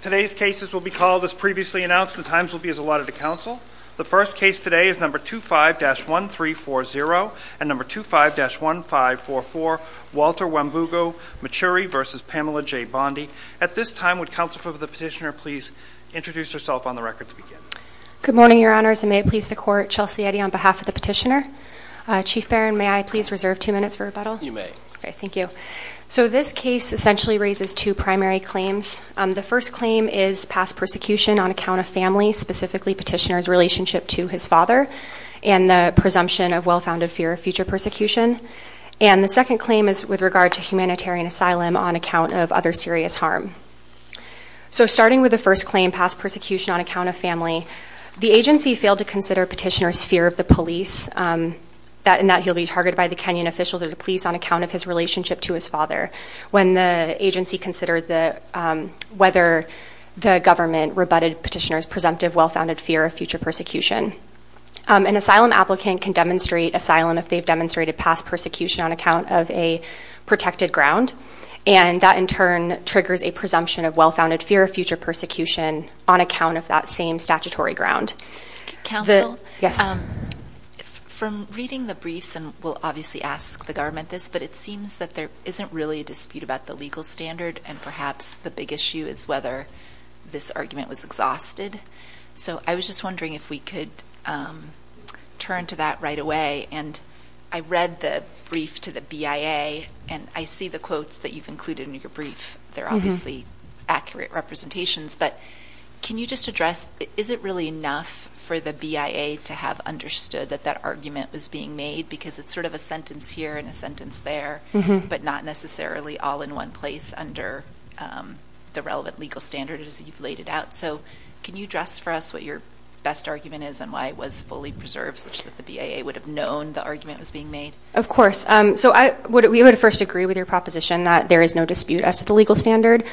Today's cases will be called as previously announced. The times will be as allotted to council. The first case today is number 25-1340 and number 25-1544 Walter Wambugo Maturi v. Pamela J. Bondi. At this time would counsel for the petitioner please introduce herself on the record to begin. Good morning your honors and may it please the court Chelsea Eddy on behalf of the petitioner. Chief Barron may I please reserve two minutes for rebuttal? You may. Okay thank you. So this case essentially raises two primary claims. The first claim is past persecution on account of family specifically petitioner's relationship to his father and the presumption of well-founded fear of future persecution and the second claim is with regard to humanitarian asylum on account of other serious harm. So starting with the first claim past persecution on account of family the agency failed to consider petitioner's fear of the police that in that he'll be targeted by the Kenyan official to the police on account of his relationship to his father when the agency considered the whether the government rebutted petitioner's presumptive well-founded fear of future persecution. An asylum applicant can demonstrate asylum if they've demonstrated past persecution on account of a protected ground and that in turn triggers a presumption of well-founded fear of future persecution on account of that same statutory ground. Counsel? Yes. From reading the briefs and we'll obviously ask the government this but it seems that there isn't really a dispute about the legal standard and perhaps the big issue is whether this argument was exhausted. So I was just wondering if we could turn to that right away and I read the brief to the BIA and I see the quotes that you've included in your brief. They're obviously accurate representations but can you just address is it really enough for the BIA to have understood that that argument was being made because it's sort of a sentence here and a sentence there but not necessarily all in one place under the relevant legal standard as you've laid it out. So can you address for us what your best argument is and why it was fully preserved such that the BIA would have known the argument was being made? Of course. So I would we would first agree with your proposition that there is no dispute as to the legal standard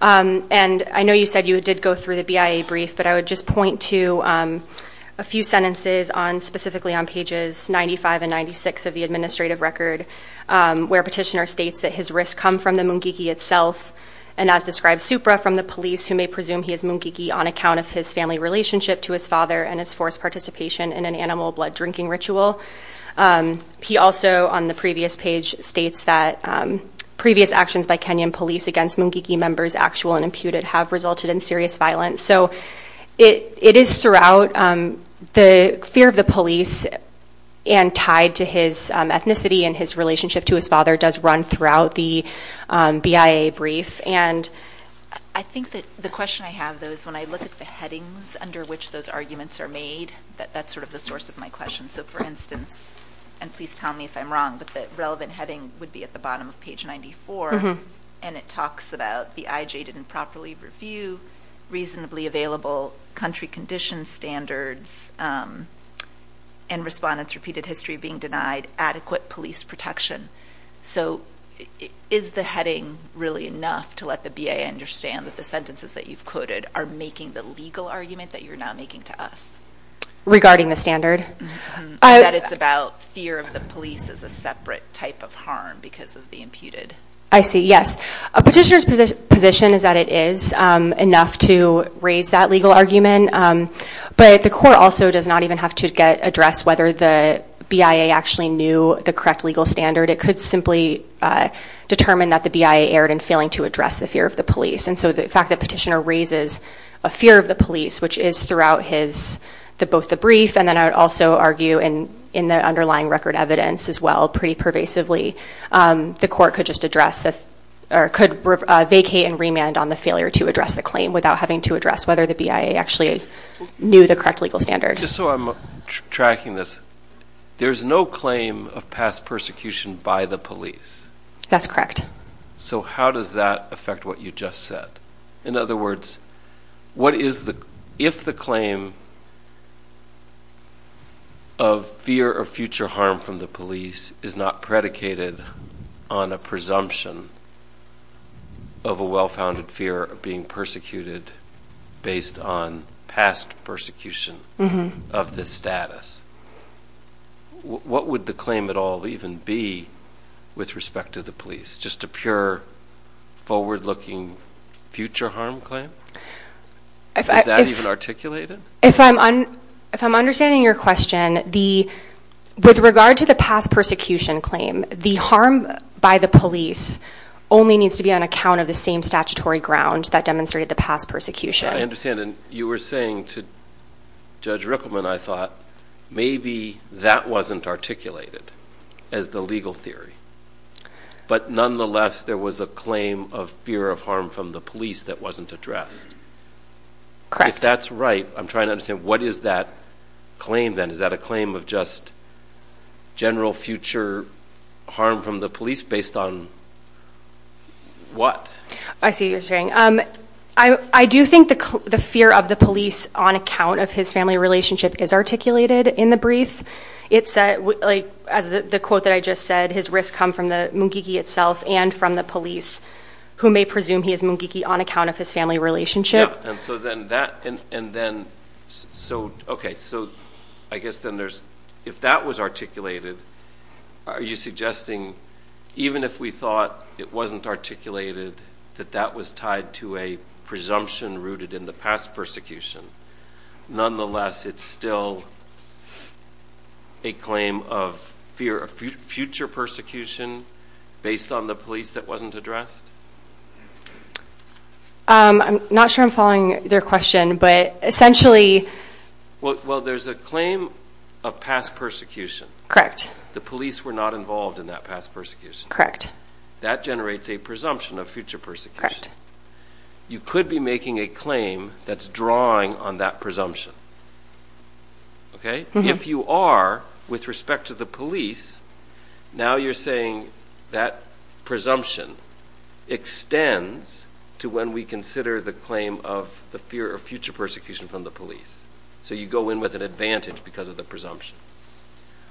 and I know you said you did go through the BIA brief but I would just point to a few sentences on specifically on pages 95 and 96 of the administrative record where petitioner states that his risk come from the Mungiki itself and as described Supra from the police who may presume he is Mungiki on account of his family relationship to his father and his forced participation in an animal blood drinking ritual. He also on the previous page states that previous actions by Kenyan police against Mungiki members actual and imputed have resulted in serious violence. So it is throughout the fear of the police and tied to his ethnicity and his relationship to his father does run throughout the BIA brief and I think that the question I have though is when I look at the headings under which those arguments are made that that's sort of the source of my question. So for instance and please tell me if I'm wrong but the relevant heading would be at the bottom of page 94 and it talks about the IJ didn't properly review reasonably available country condition standards and respondents repeated history being denied adequate police protection. So is the heading really enough to let the BIA understand that the sentences that you've quoted are making the legal argument that you're now making to us? Regarding the standard? That it's about fear of the police as a separate type of harm because of I see yes a petitioner's position is that it is enough to raise that legal argument but the court also does not even have to get address whether the BIA actually knew the correct legal standard it could simply determine that the BIA erred in failing to address the fear of the police and so the fact that petitioner raises a fear of the police which is throughout his the both the brief and then I would also argue in in the underlying record evidence as well pretty pervasively the court could just address the or could vacate and remand on the failure to address the claim without having to address whether the BIA actually knew the correct legal standard. Just so I'm tracking this there's no claim of past persecution by the police. That's correct. So how does that affect what you just said? In other words what is the if the claim of fear of future harm from the police is not predicated on a presumption of a well-founded fear of being persecuted based on past persecution of this status. What would the claim at all even be with respect to the police? Just a pure forward-looking future harm claim? Is that even articulated? If I'm on if I'm understanding your question the with regard to the past persecution claim the harm by the police only needs to be on account of the same statutory ground that demonstrated the past persecution. I understand and you were saying to Judge Rickleman I thought maybe that wasn't articulated as the legal theory but nonetheless there was a claim of fear of harm from the police that wasn't addressed. If that's right I'm trying to understand what is that claim then? Is that a claim of just general future harm from the police based on what? I see you're saying. I do think the fear of the police on account of his family relationship is articulated in the brief. It said like as the quote that I just said his risks come from the Mungiki itself and from the police who may presume he is Mungiki on account of his family relationship. So then that and then so okay so I guess then there's if that was articulated are you suggesting even if we thought it wasn't articulated that that was tied to a presumption rooted in the past persecution nonetheless it's still a claim of fear of future persecution based on the police that wasn't addressed? I'm not sure I'm following their question but essentially. Well there's a claim of past persecution. Correct. The police were not involved in that past persecution. Correct. That generates a presumption of future persecution. Correct. You could be making a claim that's on that presumption. Okay. If you are with respect to the police now you're saying that presumption extends to when we consider the claim of the fear of future persecution from the police so you go in with an advantage because of the presumption.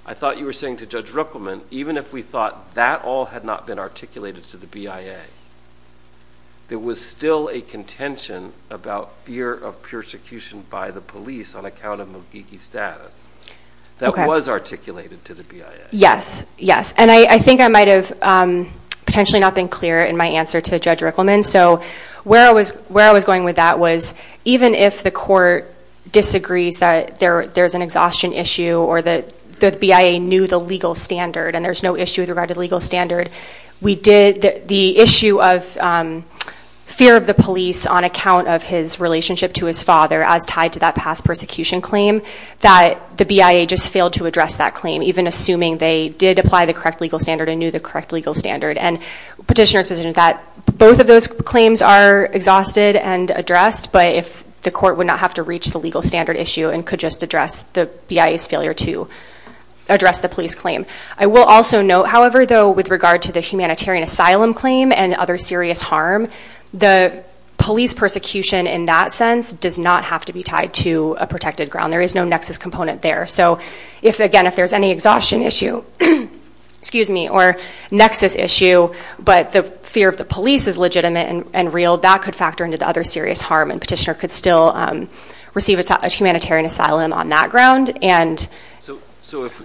I thought you were saying to Judge Ruppelman even if we thought that all had not been articulated to the BIA there was still a contention about fear of persecution by the police on account of Mugigi status that was articulated to the BIA. Yes yes and I think I might have potentially not been clear in my answer to Judge Ruppelman so where I was where I was going with that was even if the court disagrees that there there's an exhaustion issue or that the BIA knew the legal standard and there's no issue regarding the legal standard we did the issue of fear of the police on account of his relationship to his father as tied to that past persecution claim that the BIA just failed to address that claim even assuming they did apply the correct legal standard and knew the correct legal standard and petitioner's position is that both of those claims are exhausted and addressed but if the court would not have to reach the legal standard issue and could just address the BIA's failure to address the police claim. I will also note however though with regard to the humanitarian asylum claim and other serious harm the police persecution in that sense does not have to be tied to a protected ground there is no nexus component there so if again if there's any exhaustion issue excuse me or nexus issue but the fear of the police is legitimate and real that could factor into the other serious harm and petitioner could still receive a humanitarian asylum on that ground and so so if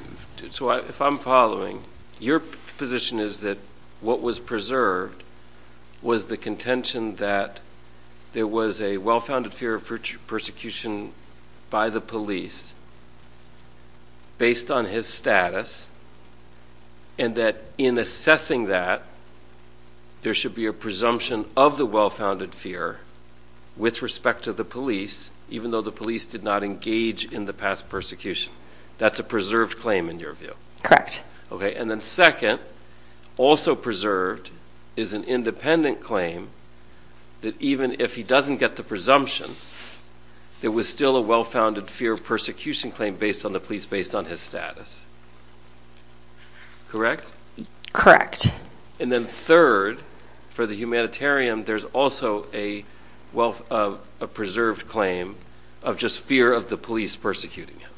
so if I'm following your position is that what was preserved was the contention that there was a well-founded fear of future persecution by the police based on his status and that in assessing that there should be a presumption of the well-founded fear with respect to the police even though the police did not engage in the past persecution that's a preserved claim in your view correct okay and then second also preserved is an independent claim that even if he doesn't get the presumption there was still a well-founded fear of persecution claim based on the police based on his status correct correct and then third for the humanitarian there's also a wealth of a persecuting him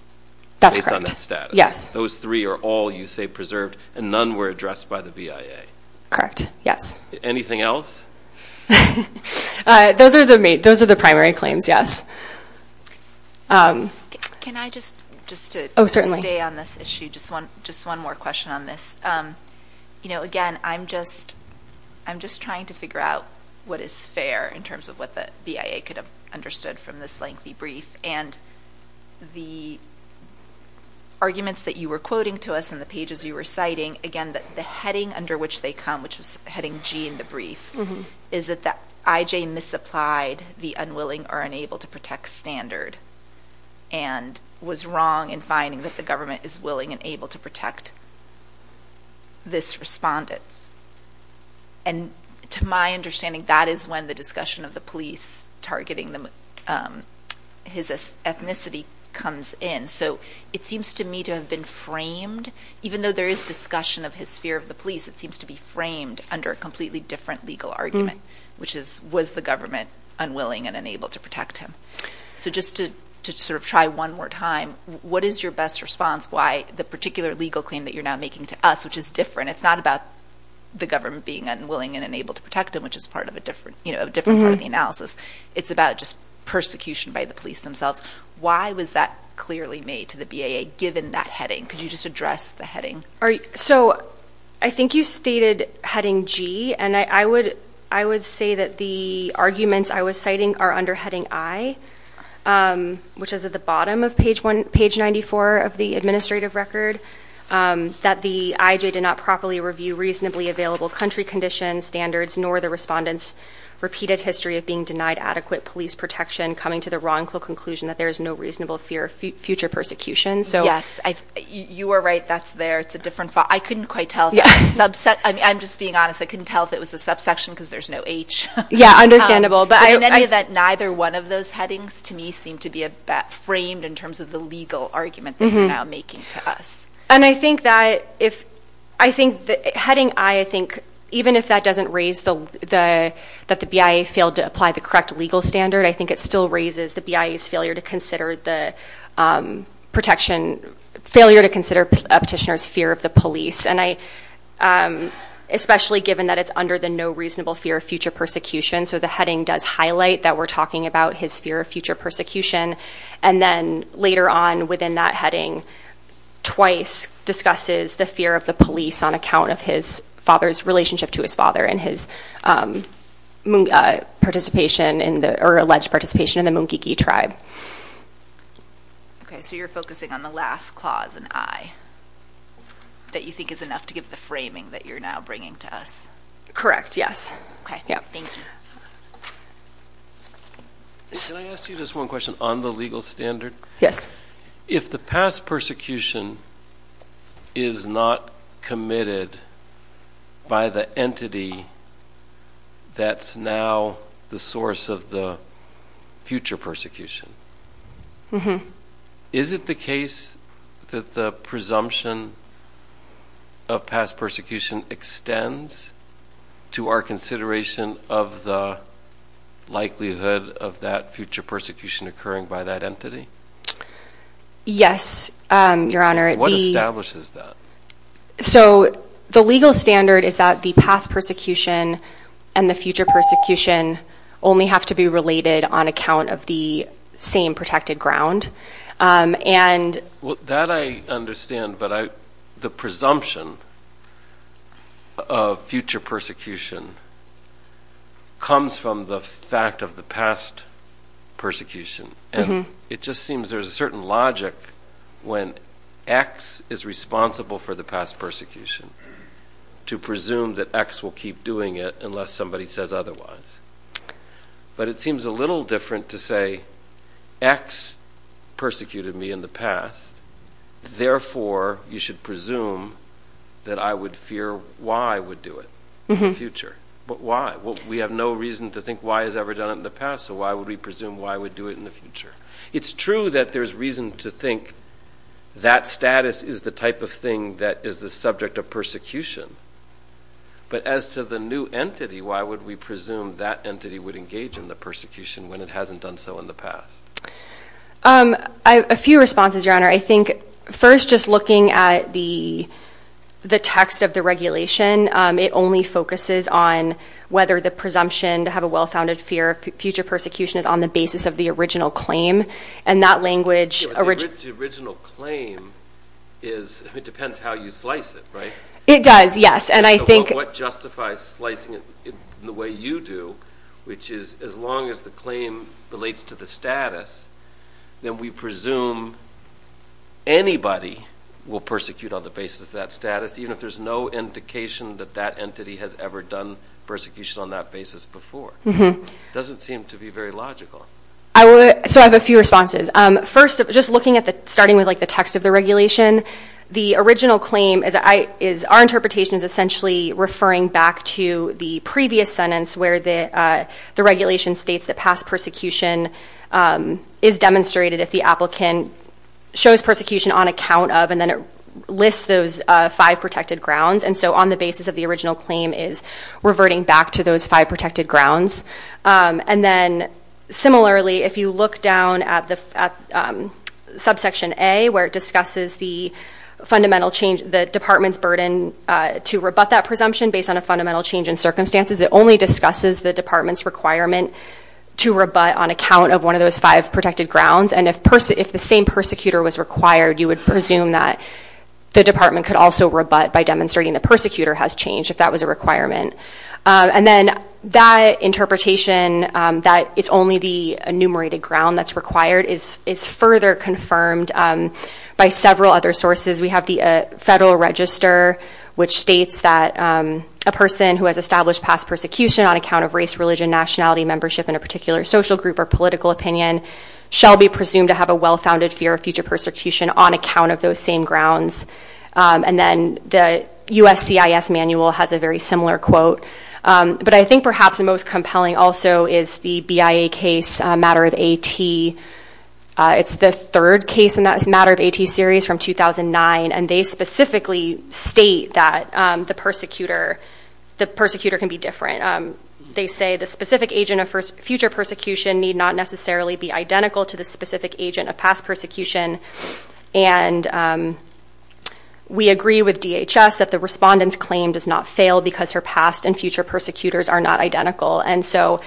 that's based on that status yes those three are all you say preserved and none were addressed by the BIA correct yes anything else those are the main those are the primary claims yes can I just just to oh certainly stay on this issue just one just one more question on this you know again I'm just I'm just trying to figure out what is fair in terms of what the BIA could understood from this lengthy brief and the arguments that you were quoting to us in the pages you were citing again that the heading under which they come which was heading g in the brief is that that IJ misapplied the unwilling or unable to protect standard and was wrong in finding that the government is willing and able to protect this respondent and to my understanding that is when the discussion of the police targeting them his ethnicity comes in so it seems to me to have been framed even though there is discussion of his fear of the police it seems to be framed under a completely different legal argument which is was the government unwilling and unable to protect him so just to to sort of try one more time what is your best response why the particular legal claim that you're now making to us which is different it's not about the government being unwilling and unable to protect him which is part of a different you know different part of the analysis it's about just persecution by the police themselves why was that clearly made to the BIA given that heading could you just address the heading all right so I think you stated heading g and I would I would say that the arguments I was citing are under heading I which is at the bottom of page one page 94 of the administrative record that the IJ did not properly review reasonably available country condition standards nor the respondents repeated history of being denied adequate police protection coming to the wrongful conclusion that there is no reasonable fear of future persecution so yes I you are right that's there it's a different file I couldn't quite tell the subset I'm just being honest I couldn't tell if it was the subsection because there's no h yeah understandable but in any event neither one of those headings to me seem to be a framed in terms of the legal argument they're now making to us and I think that if I think that heading I think even if that doesn't raise the the that the BIA failed to apply the correct legal standard I think it still raises the BIA's failure to consider the protection failure to consider a petitioner's fear of the police and I especially given that it's under the no reasonable fear of future persecution so the heading does highlight that we're talking about his fear of future persecution and then later on within that heading twice discusses the fear of the police on account of his father's relationship to his father and his moon participation in the or alleged participation in the moon geeky tribe okay so you're focusing on the last clause and I that you think is enough to give the framing that you're now bringing to us correct yes okay yeah thank you okay can I ask you just one question on the legal standard yes if the past persecution is not committed by the entity that's now the source of the future persecution mm-hmm is it the case that the presumption of past persecution extends to our consideration of the likelihood of that future persecution occurring by that entity yes um your honor what establishes that so the legal standard is that the past persecution and the future persecution only have to be related on account of the same protected ground um and well that I understand but I the presumption of future persecution comes from the fact of the past persecution and it just seems there's a certain logic when x is responsible for the past persecution to presume that x will keep doing it unless somebody says otherwise but it seems a little different to say x persecuted me in the past therefore you should presume that I would fear y would do it in the future but why well we have no reason to think y has ever done it in the past so why would we presume y would do it in the future it's true that there's reason to think that status is the type of thing that is the subject of persecution but as to the new entity why would we presume that entity would engage in the persecution when it hasn't done so in the past um a few responses your honor I think first just looking at the the text of the regulation um it only focuses on whether the presumption to have a well-founded fear of future persecution is on the basis of the original claim and that language original claim is it depends how you slice it right it does yes and I think what justifies slicing it in the way you do which is as long as the claim relates to the status then we presume anybody will persecute on the basis of that status even if there's no indication that that entity has ever done persecution on that basis before doesn't seem to be very logical I would so I have a few responses um first just looking at the starting with like the text of the regulation the original claim is I is our interpretation is essentially referring back to the previous sentence where the uh the regulation states that past persecution um is demonstrated if the applicant shows persecution on account of and then it lists those uh five protected grounds and so on the basis of the those five protected grounds um and then similarly if you look down at the um subsection a where it discusses the fundamental change the department's burden uh to rebut that presumption based on a fundamental change in circumstances it only discusses the department's requirement to rebut on account of one of those five protected grounds and if person if the same persecutor was required you would presume that the department could also rebut by demonstrating the persecutor has changed if that was a requirement and then that interpretation that it's only the enumerated ground that's required is is further confirmed by several other sources we have the federal register which states that a person who has established past persecution on account of race religion nationality membership in a particular social group or political opinion shall be presumed to have a well-founded fear of future persecution on account of those same grounds and then the USCIS manual has a very similar quote but I think perhaps the most compelling also is the BIA case matter of AT it's the third case in that matter of AT series from 2009 and they specifically state that the persecutor the persecutor can be different they say the specific agent of future persecution need not necessarily be identical to the specific agent of past persecution and we agree with DHS that the respondent's claim does not fail because her past and future persecutors are not identical and so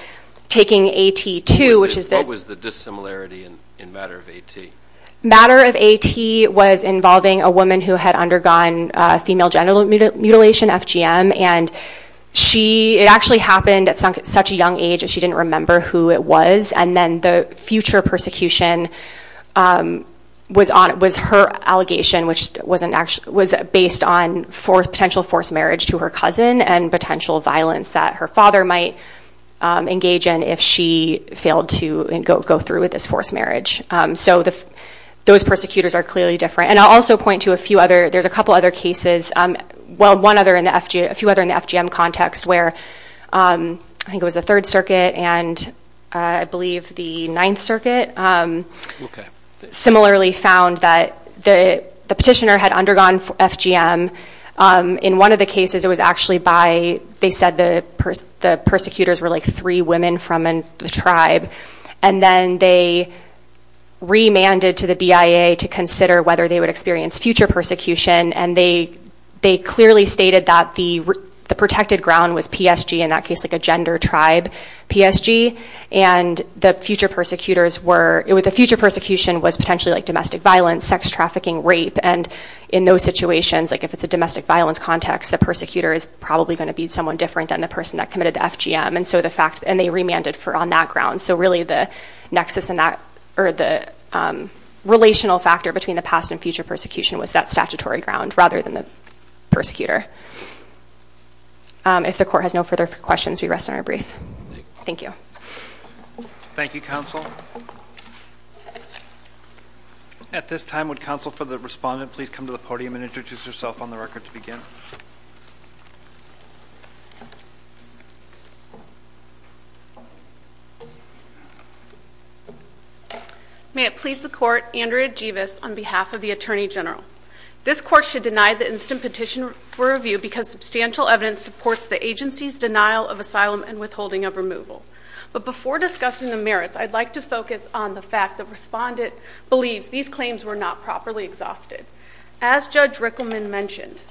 taking AT2 which is what was the dissimilarity in in matter of AT matter of AT was involving a woman who had undergone female genital mutilation FGM and she it actually happened at such a young age and she didn't remember who it was and then the future persecution was on it was her allegation which wasn't actually was based on for potential forced marriage to her cousin and potential violence that her father might engage in if she failed to go through with this forced marriage so the those persecutors are clearly different and I'll also point to a few other there's a couple other cases well one other in the FGM a few other in the FGM context where I think it was the third circuit and I believe the ninth circuit similarly found that the the petitioner had undergone FGM in one of the cases it was actually by they said the the persecutors were like three women from the tribe and then they remanded to the BIA to consider whether they would experience future persecution and they they clearly stated that the the protected ground was PSG in that case like a gender tribe PSG and the future persecutors were the future persecution was potentially like domestic violence sex trafficking rape and in those situations like if it's a domestic violence context the persecutor is probably going to be someone different than the person that committed the FGM and so the fact and they remanded for on that ground so really the nexus in that or the relational factor between the past and future persecution was that statutory ground rather than the persecutor if the court has no further questions we rest on our brief thank you thank you counsel at this time would counsel for the respondent please come to the podium and introduce yourself on the record to begin may it please the court andrea jivas on behalf of attorney general this court should deny the instant petition for review because substantial evidence supports the agency's denial of asylum and withholding of removal but before discussing the merits i'd like to focus on the fact that respondent believes these claims were not properly exhausted as judge rickleman mentioned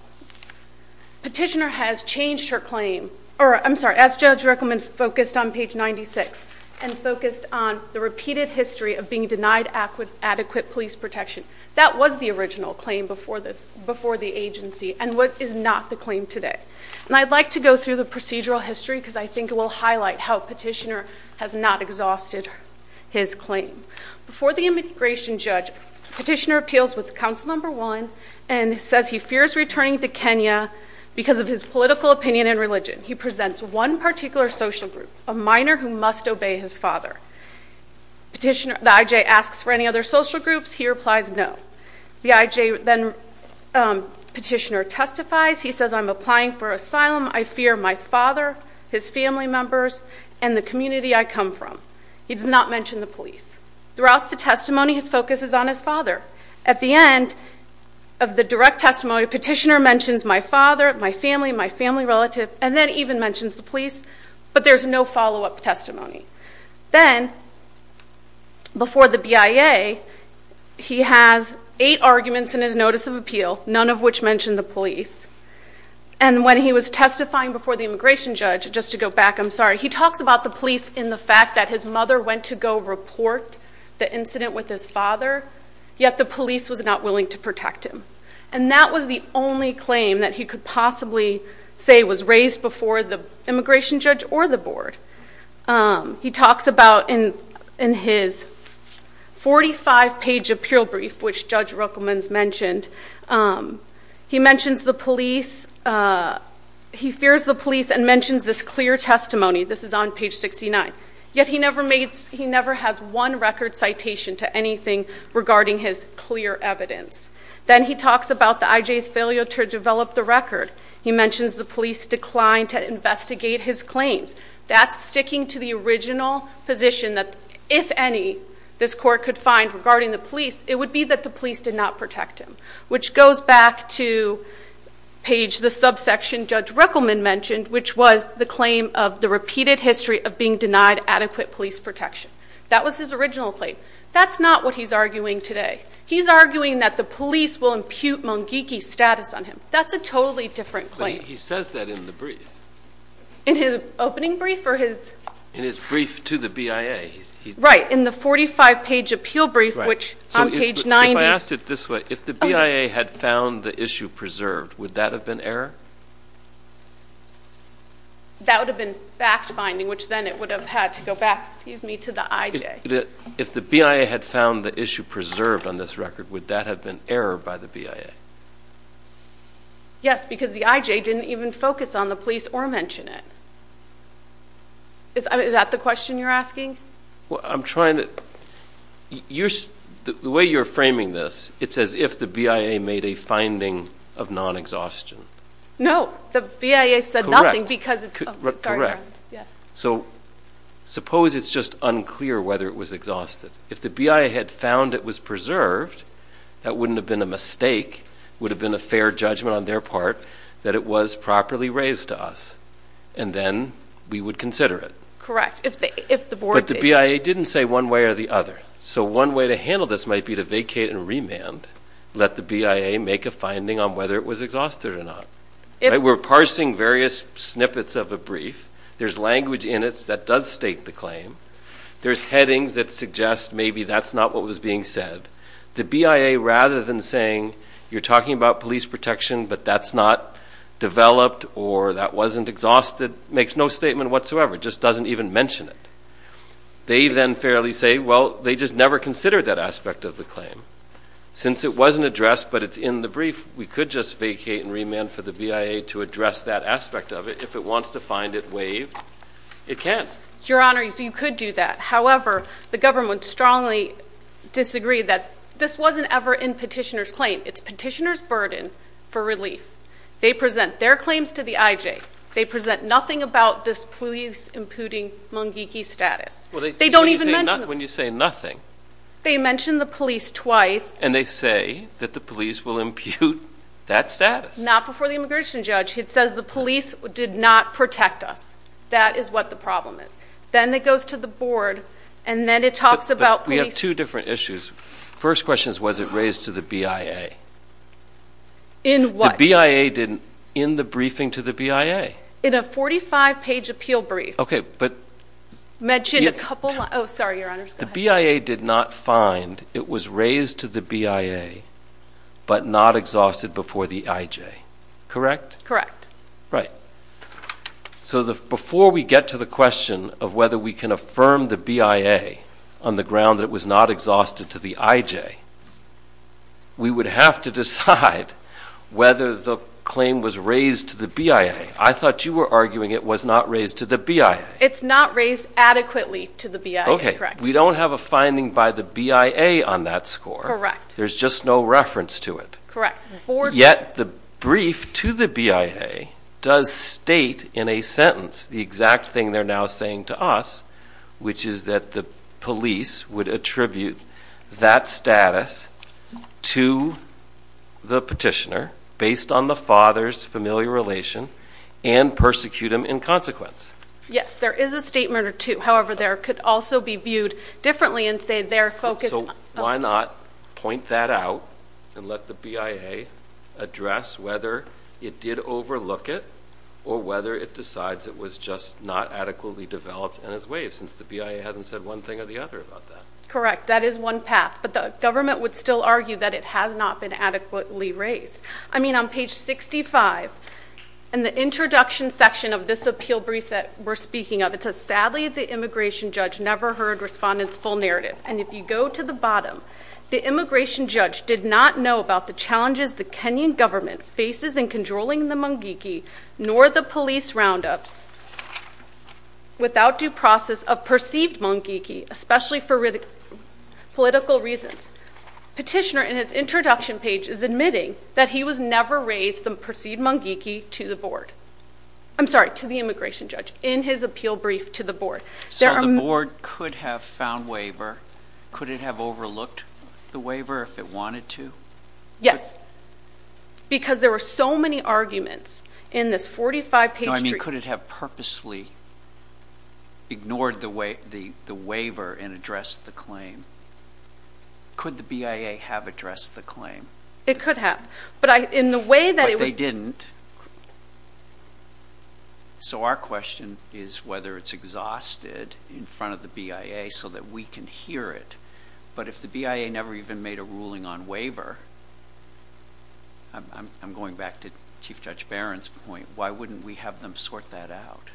petitioner has changed her claim or i'm sorry as judge rickleman focused on page 96 and focused on the repeated history of being denied adequate police protection that was the original claim before this before the agency and what is not the claim today and i'd like to go through the procedural history because i think it will highlight how petitioner has not exhausted his claim before the immigration judge petitioner appeals with council number one and says he fears returning to kenya because of his political opinion and religion he presents one particular social group a minor who must obey his father petitioner the ij asks for any other social groups he replies no the ij then petitioner testifies he says i'm applying for asylum i fear my father his family members and the community i come from he does not mention the police throughout the testimony his focus is on his father at the end of the direct testimony petitioner mentions my father my family my relative and then even mentions the police but there's no follow-up testimony then before the bia he has eight arguments in his notice of appeal none of which mentioned the police and when he was testifying before the immigration judge just to go back i'm sorry he talks about the police in the fact that his mother went to go report the incident with his father yet the police was not willing to protect him and that was the only claim that he could possibly say was raised before the immigration judge or the board um he talks about in in his 45 page appeal brief which judge ruckelmans mentioned um he mentions the police uh he fears the police and mentions this clear testimony this is on page 69 yet he never made he never has one record citation to anything regarding his clear evidence then he talks about the ij's failure to develop the record he mentions the police decline to investigate his claims that's sticking to the original position that if any this court could find regarding the police it would be that the police did not protect him which goes back to page the subsection judge ruckelman mentioned which was the claim of the repeated history of being denied adequate police protection that was his original claim that's not what he's arguing today he's arguing that the police will status on him that's a totally different claim he says that in the brief in his opening brief for his in his brief to the bia he's right in the 45 page appeal brief which on page 90 if i asked it this way if the bia had found the issue preserved would that have been error that would have been fact finding which then it would have had to go back excuse me to the ij if the bia had found the issue preserved on this record would that have been error by the bia yes because the ij didn't even focus on the police or mention it is that the question you're asking well i'm trying to you're the way you're framing this it's as if the bia made a finding of non-exhaustion no the bia said nothing because it's correct yeah so suppose it's just unclear whether it was exhausted if the bia had found it was preserved that wouldn't have been a mistake would have been a fair judgment on their part that it was properly raised to us and then we would consider it correct if the if the board but the bia didn't say one way or the other so one way to handle this might be to vacate and remand let the bia make a finding on whether it was exhausted or not if we're parsing various snippets of a brief there's language in it that does state the claim there's headings that suggest maybe that's not what was being said the bia rather than saying you're talking about police protection but that's not developed or that wasn't exhausted makes no statement whatsoever just doesn't even mention it they then fairly say well they just never considered that aspect of the claim since it wasn't addressed but it's in the brief we could just vacate and remand for the bia to address that aspect of it if it wants to find it waived it can't your honor so you could do that however the government strongly disagree that this wasn't ever in petitioner's claim it's petitioner's burden for relief they present their claims to the ij they present nothing about this police imputing mungiki status well they don't even mention when you say nothing they mention the police twice and they say that the police will impute that status not before the immigration judge it says the police did not protect us that is what the problem is then it goes to the board and then it talks about we have two different issues first questions was it raised to the bia in what bia didn't in the briefing to the bia in a 45 page appeal brief okay but mentioned a couple oh sorry your honor the bia did not find it was raised to the bia but not exhausted before the ij correct correct right so the before we get to the question of we can affirm the bia on the ground that it was not exhausted to the ij we would have to decide whether the claim was raised to the bia i thought you were arguing it was not raised to the bia it's not raised adequately to the bia okay we don't have a finding by the bia on that score correct there's just no reference to it correct yet the brief to the bia does state in a sentence the exact thing they're now saying to us which is that the police would attribute that status to the petitioner based on the father's familiar relation and persecute him in consequence yes there is a statement or two however there could also be viewed differently and say they're focused so why not point that out and let the bia address whether it did overlook it or whether it decides it was just not adequately developed and as waves since the bia hasn't said one thing or the other about that correct that is one path but the government would still argue that it has not been adequately raised i mean on page 65 and the introduction section of this appeal brief that we're speaking of it says sadly the immigration judge never heard respondents full narrative and if you go to the bottom the immigration judge did not know about the challenges the kenyan government faces in controlling the mungiki nor the police roundups without due process of perceived mungiki especially for political reasons petitioner in his introduction page is admitting that he was never raised the perceived mungiki to the board i'm sorry to the immigration judge in his appeal brief to the board so the board could have found waiver could it have overlooked the waiver if it there were so many arguments in this 45 page i mean could it have purposely ignored the way the the waiver and addressed the claim could the bia have addressed the claim it could have but i in the way that it was they didn't so our question is whether it's exhausted in front of the bia so that we can hear it but if the bia never even made a ruling on waiver i'm going back to chief judge barron's point why wouldn't we have them sort that out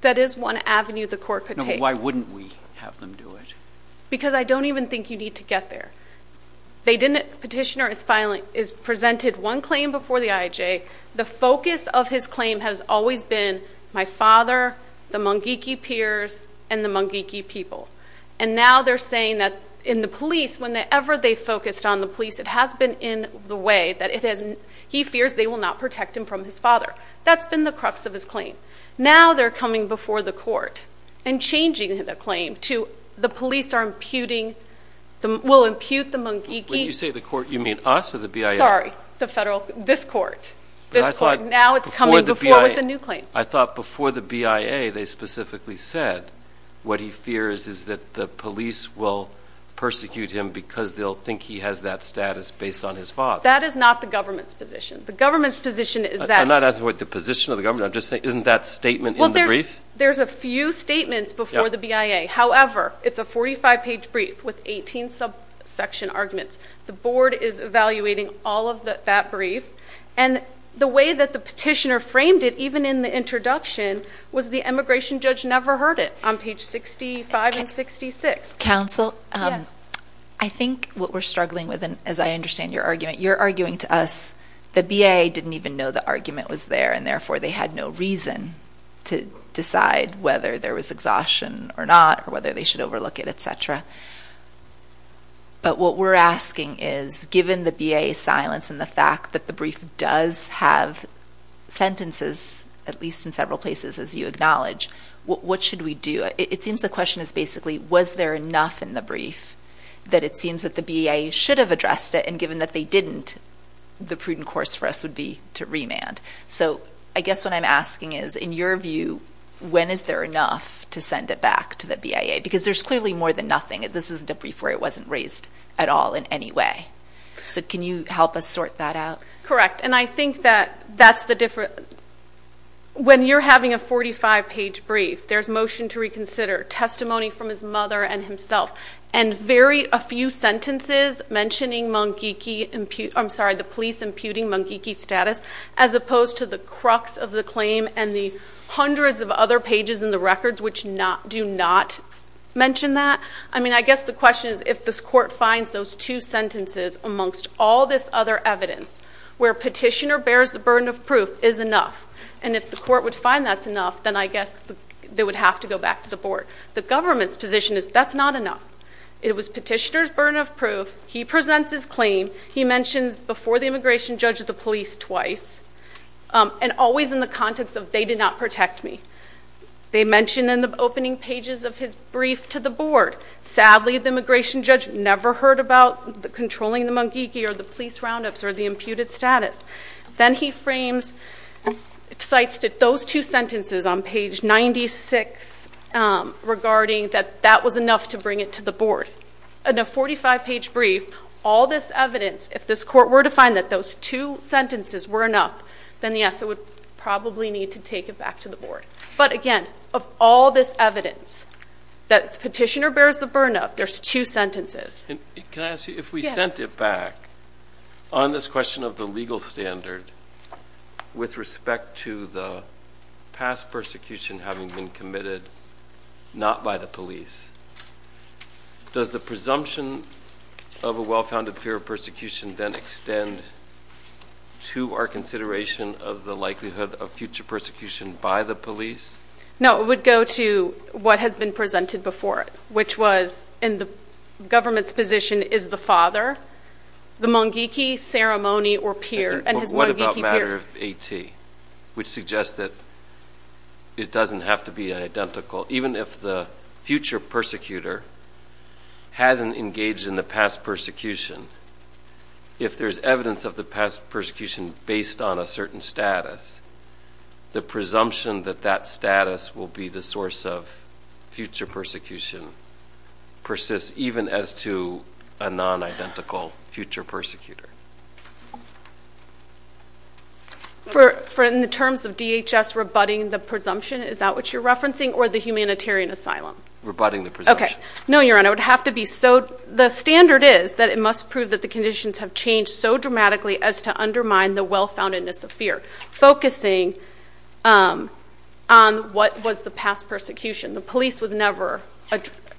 that is one avenue the court could take why wouldn't we have them do it because i don't even think you need to get there they didn't petitioner is filing is presented one claim before the ij the focus of his claim has always been my father the mungiki peers and the mungiki people and now they're saying that in the police whenever they focused on the police it has been in the way that it hasn't he fears they will not protect him from his father that's been the crux of his claim now they're coming before the court and changing the claim to the police are imputing the will impute the mungiki you say the court you mean us or the bia sorry the federal this court this court now it's coming before with a new claim i thought before the bia they specifically said what he fears is that the police will persecute him because they'll think he has that status based on his father that is not the government's position the government's position is that i'm not asking what the position of the government i'm just saying isn't that statement in the brief there's a few statements before the bia however it's a 45 page brief with 18 sub section arguments the board is evaluating all of the that brief and the way that the petitioner framed it even in the introduction was the immigration judge never heard it on page 65 and 66 council um i think what we're struggling with and as i understand your argument you're arguing to us the bia didn't even know the argument was there and therefore they had no reason to decide whether there was exhaustion or not or whether they should overlook it etc but what we're asking is given the bia silence and the fact that the brief does have sentences at least in several places as you acknowledge what what should we do it seems the question is basically was there enough in the brief that it seems that the bia should have addressed it and given that they didn't the prudent course for us would be to remand so i guess what i'm asking is in your view when is there enough to send it back to the bia because there's clearly more than nothing this is a brief where it wasn't raised at all in any way so can you help us sort that out correct and i think that that's the difference when you're having a 45 page brief there's motion to reconsider testimony from his mother and himself and very a few sentences mentioning mungiki i'm sorry the police imputing mungiki status as opposed to the crux of the claim and the hundreds of other pages in the records which not do not mention that i mean i guess the question is if this court finds those two sentences amongst all this other evidence where petitioner bears the burden of proof is enough and if the court would find that's enough then i guess they would have to go back to the board the government's position is that's not enough it was petitioner's burden of proof he presents his claim he mentions before the immigration judge of the police twice and always in the context of they did not protect me they mentioned in the opening pages of his brief to the board sadly the immigration judge never heard about the controlling the mungiki or the police roundups or the imputed status then he frames cites that those two sentences on page 96 regarding that that was enough to bring it to the board in a 45 page brief all this evidence if this were to find that those two sentences were enough then yes it would probably need to take it back to the board but again of all this evidence that petitioner bears the burn up there's two sentences can i ask you if we sent it back on this question of the legal standard with respect to the past persecution having been committed not by the police does the presumption of a well-founded fear of persecution then extend to our consideration of the likelihood of future persecution by the police no it would go to what has been presented before it which was in the government's position is the father the mungiki ceremony or peer and what about matter of at which suggests that it doesn't have to be identical even if the future persecutor hasn't engaged in the past persecution if there's evidence of the past persecution based on a certain status the presumption that that status will be the source of future persecution persists even as to a non-identical future persecutor for for in the terms of dhs rebutting the presumption is that what you're no your honor would have to be so the standard is that it must prove that the conditions have changed so dramatically as to undermine the well-foundedness of fear focusing um on what was the past persecution the police was never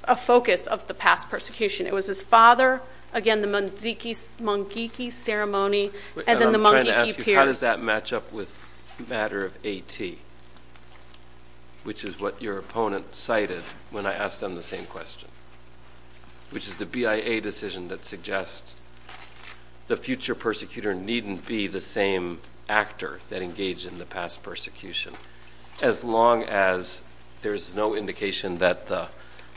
a focus of the past persecution it was his father again the mungiki ceremony and then the monkey how does that match up with matter of at which is what your opponent cited when i asked them the same question which is the bia decision that suggests the future persecutor needn't be the same actor that engaged in the past persecution as long as there's no indication that the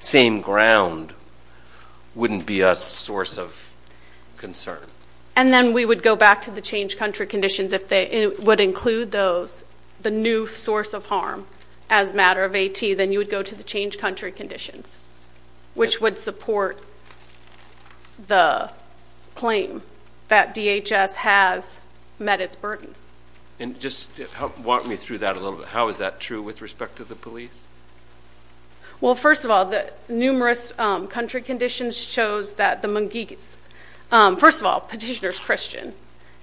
same ground wouldn't be a source of concern and then we would go back to the change country conditions if they would include those the new source of harm as matter of at then you would go to the change country conditions which would support the claim that dhs has met its burden and just walk me through that a little bit how is that true with respect to the police well first of all the numerous um country conditions shows that the um first of all petitioner's christian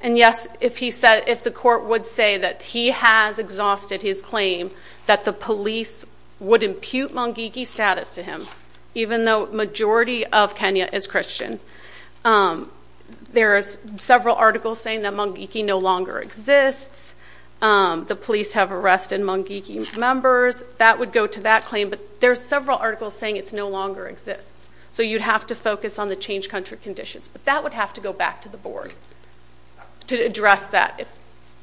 and yes if he said if the court would say that he has exhausted his claim that the police would impute mungiki status to him even though majority of kenya is christian um there's several articles saying that mungiki no longer exists um the police have arrested mungiki members that would go to that claim but there's several articles saying it's no longer exists so you'd have to focus on the change country conditions but that would have to go back to the board to address that if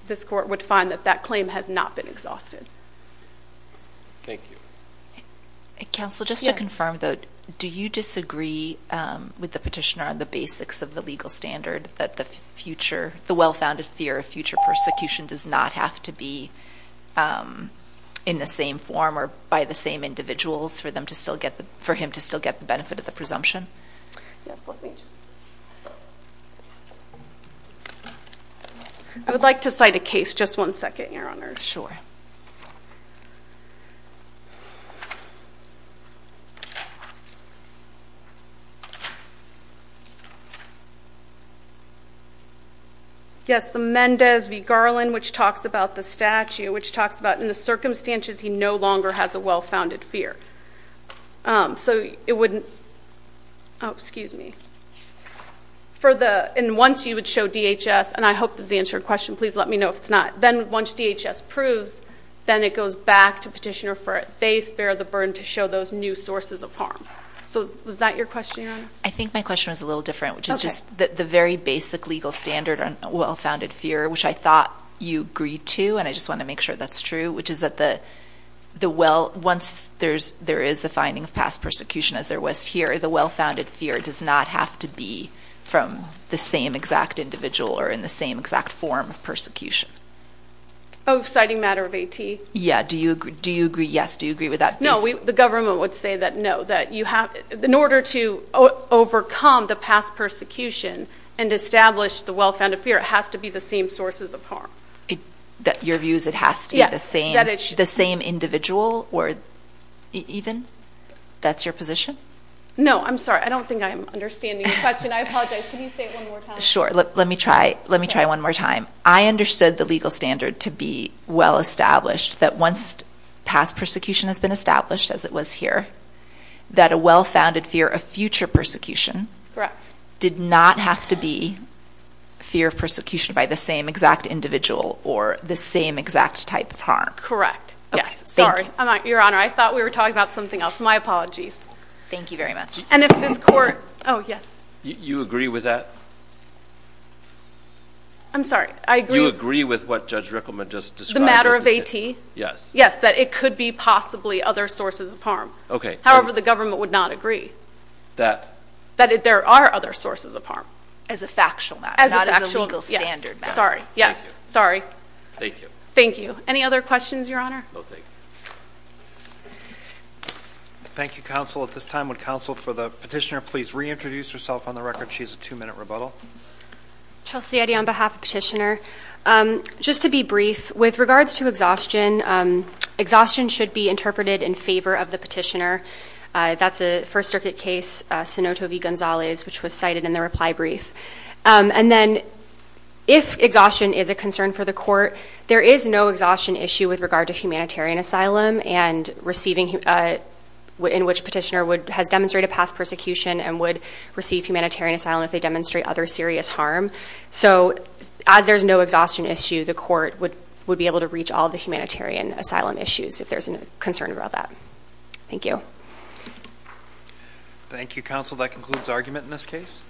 this court would find that that claim has not been exhausted thank you council just to confirm that do you disagree um with the petitioner on the basics of the legal standard that the future the well-founded fear of future persecution does not have to be um in the same form or by the same individuals for them to still get for him to still get the benefit of the presumption yes let me just i would like to cite a case just one second your honor sure yes the mendez v garland which talks about the statue which talks about in the circumstances he no longer has a well-founded fear um so it wouldn't oh excuse me for the and once you would show dhs and i hope this is answered question please let me know if it's not then once dhs proves then it goes back to petitioner for it they spare the burden to show those new sources of harm so was that your question i think my question was a little different which is just the very basic legal standard on well-founded fear which i thought you agreed to and i just want to make sure that's true which is that the the well once there's there is a finding of past persecution as there was here the well-founded fear does not have to be from the same exact individual or in the same exact form of persecution oh exciting matter of at yeah do you agree do you agree yes do you agree with that no we the government would say that no that you have in order to overcome the past persecution and establish the well-founded fear it has to be the same sources of harm that your views it has to be the same the same individual or even that's your position no i'm sorry i don't think i'm understanding the question i apologize can sure let me try let me try one more time i understood the legal standard to be well established that once past persecution has been established as it was here that a well-founded fear of future persecution correct did not have to be fear of persecution by the same exact individual or the same exact type of harm correct yes sorry i'm not your honor i thought we were talking about something else my apologies thank you very much and if this court oh you agree with that i'm sorry i agree you agree with what judge rickleman just described the matter of at yes yes that it could be possibly other sources of harm okay however the government would not agree that that there are other sources of harm as a factual matter as a legal standard sorry yes sorry thank you thank you any other questions your honor no thank you thank you counsel at this time would counsel for the petitioner please reintroduce herself on the record she's a two-minute rebuttal chelsea eddie on behalf of petitioner um just to be brief with regards to exhaustion um exhaustion should be interpreted in favor of the petitioner that's a first circuit case senator v gonzalez which was cited in the reply brief and then if exhaustion is a concern for the court there is no exhaustion issue with regard to humanitarian asylum and receiving in which petitioner would has demonstrated past persecution and would receive humanitarian asylum if they demonstrate other serious harm so as there's no exhaustion issue the court would would be able to reach all the humanitarian asylum issues if there's a concern about that thank you thank you counsel that concludes argument in this case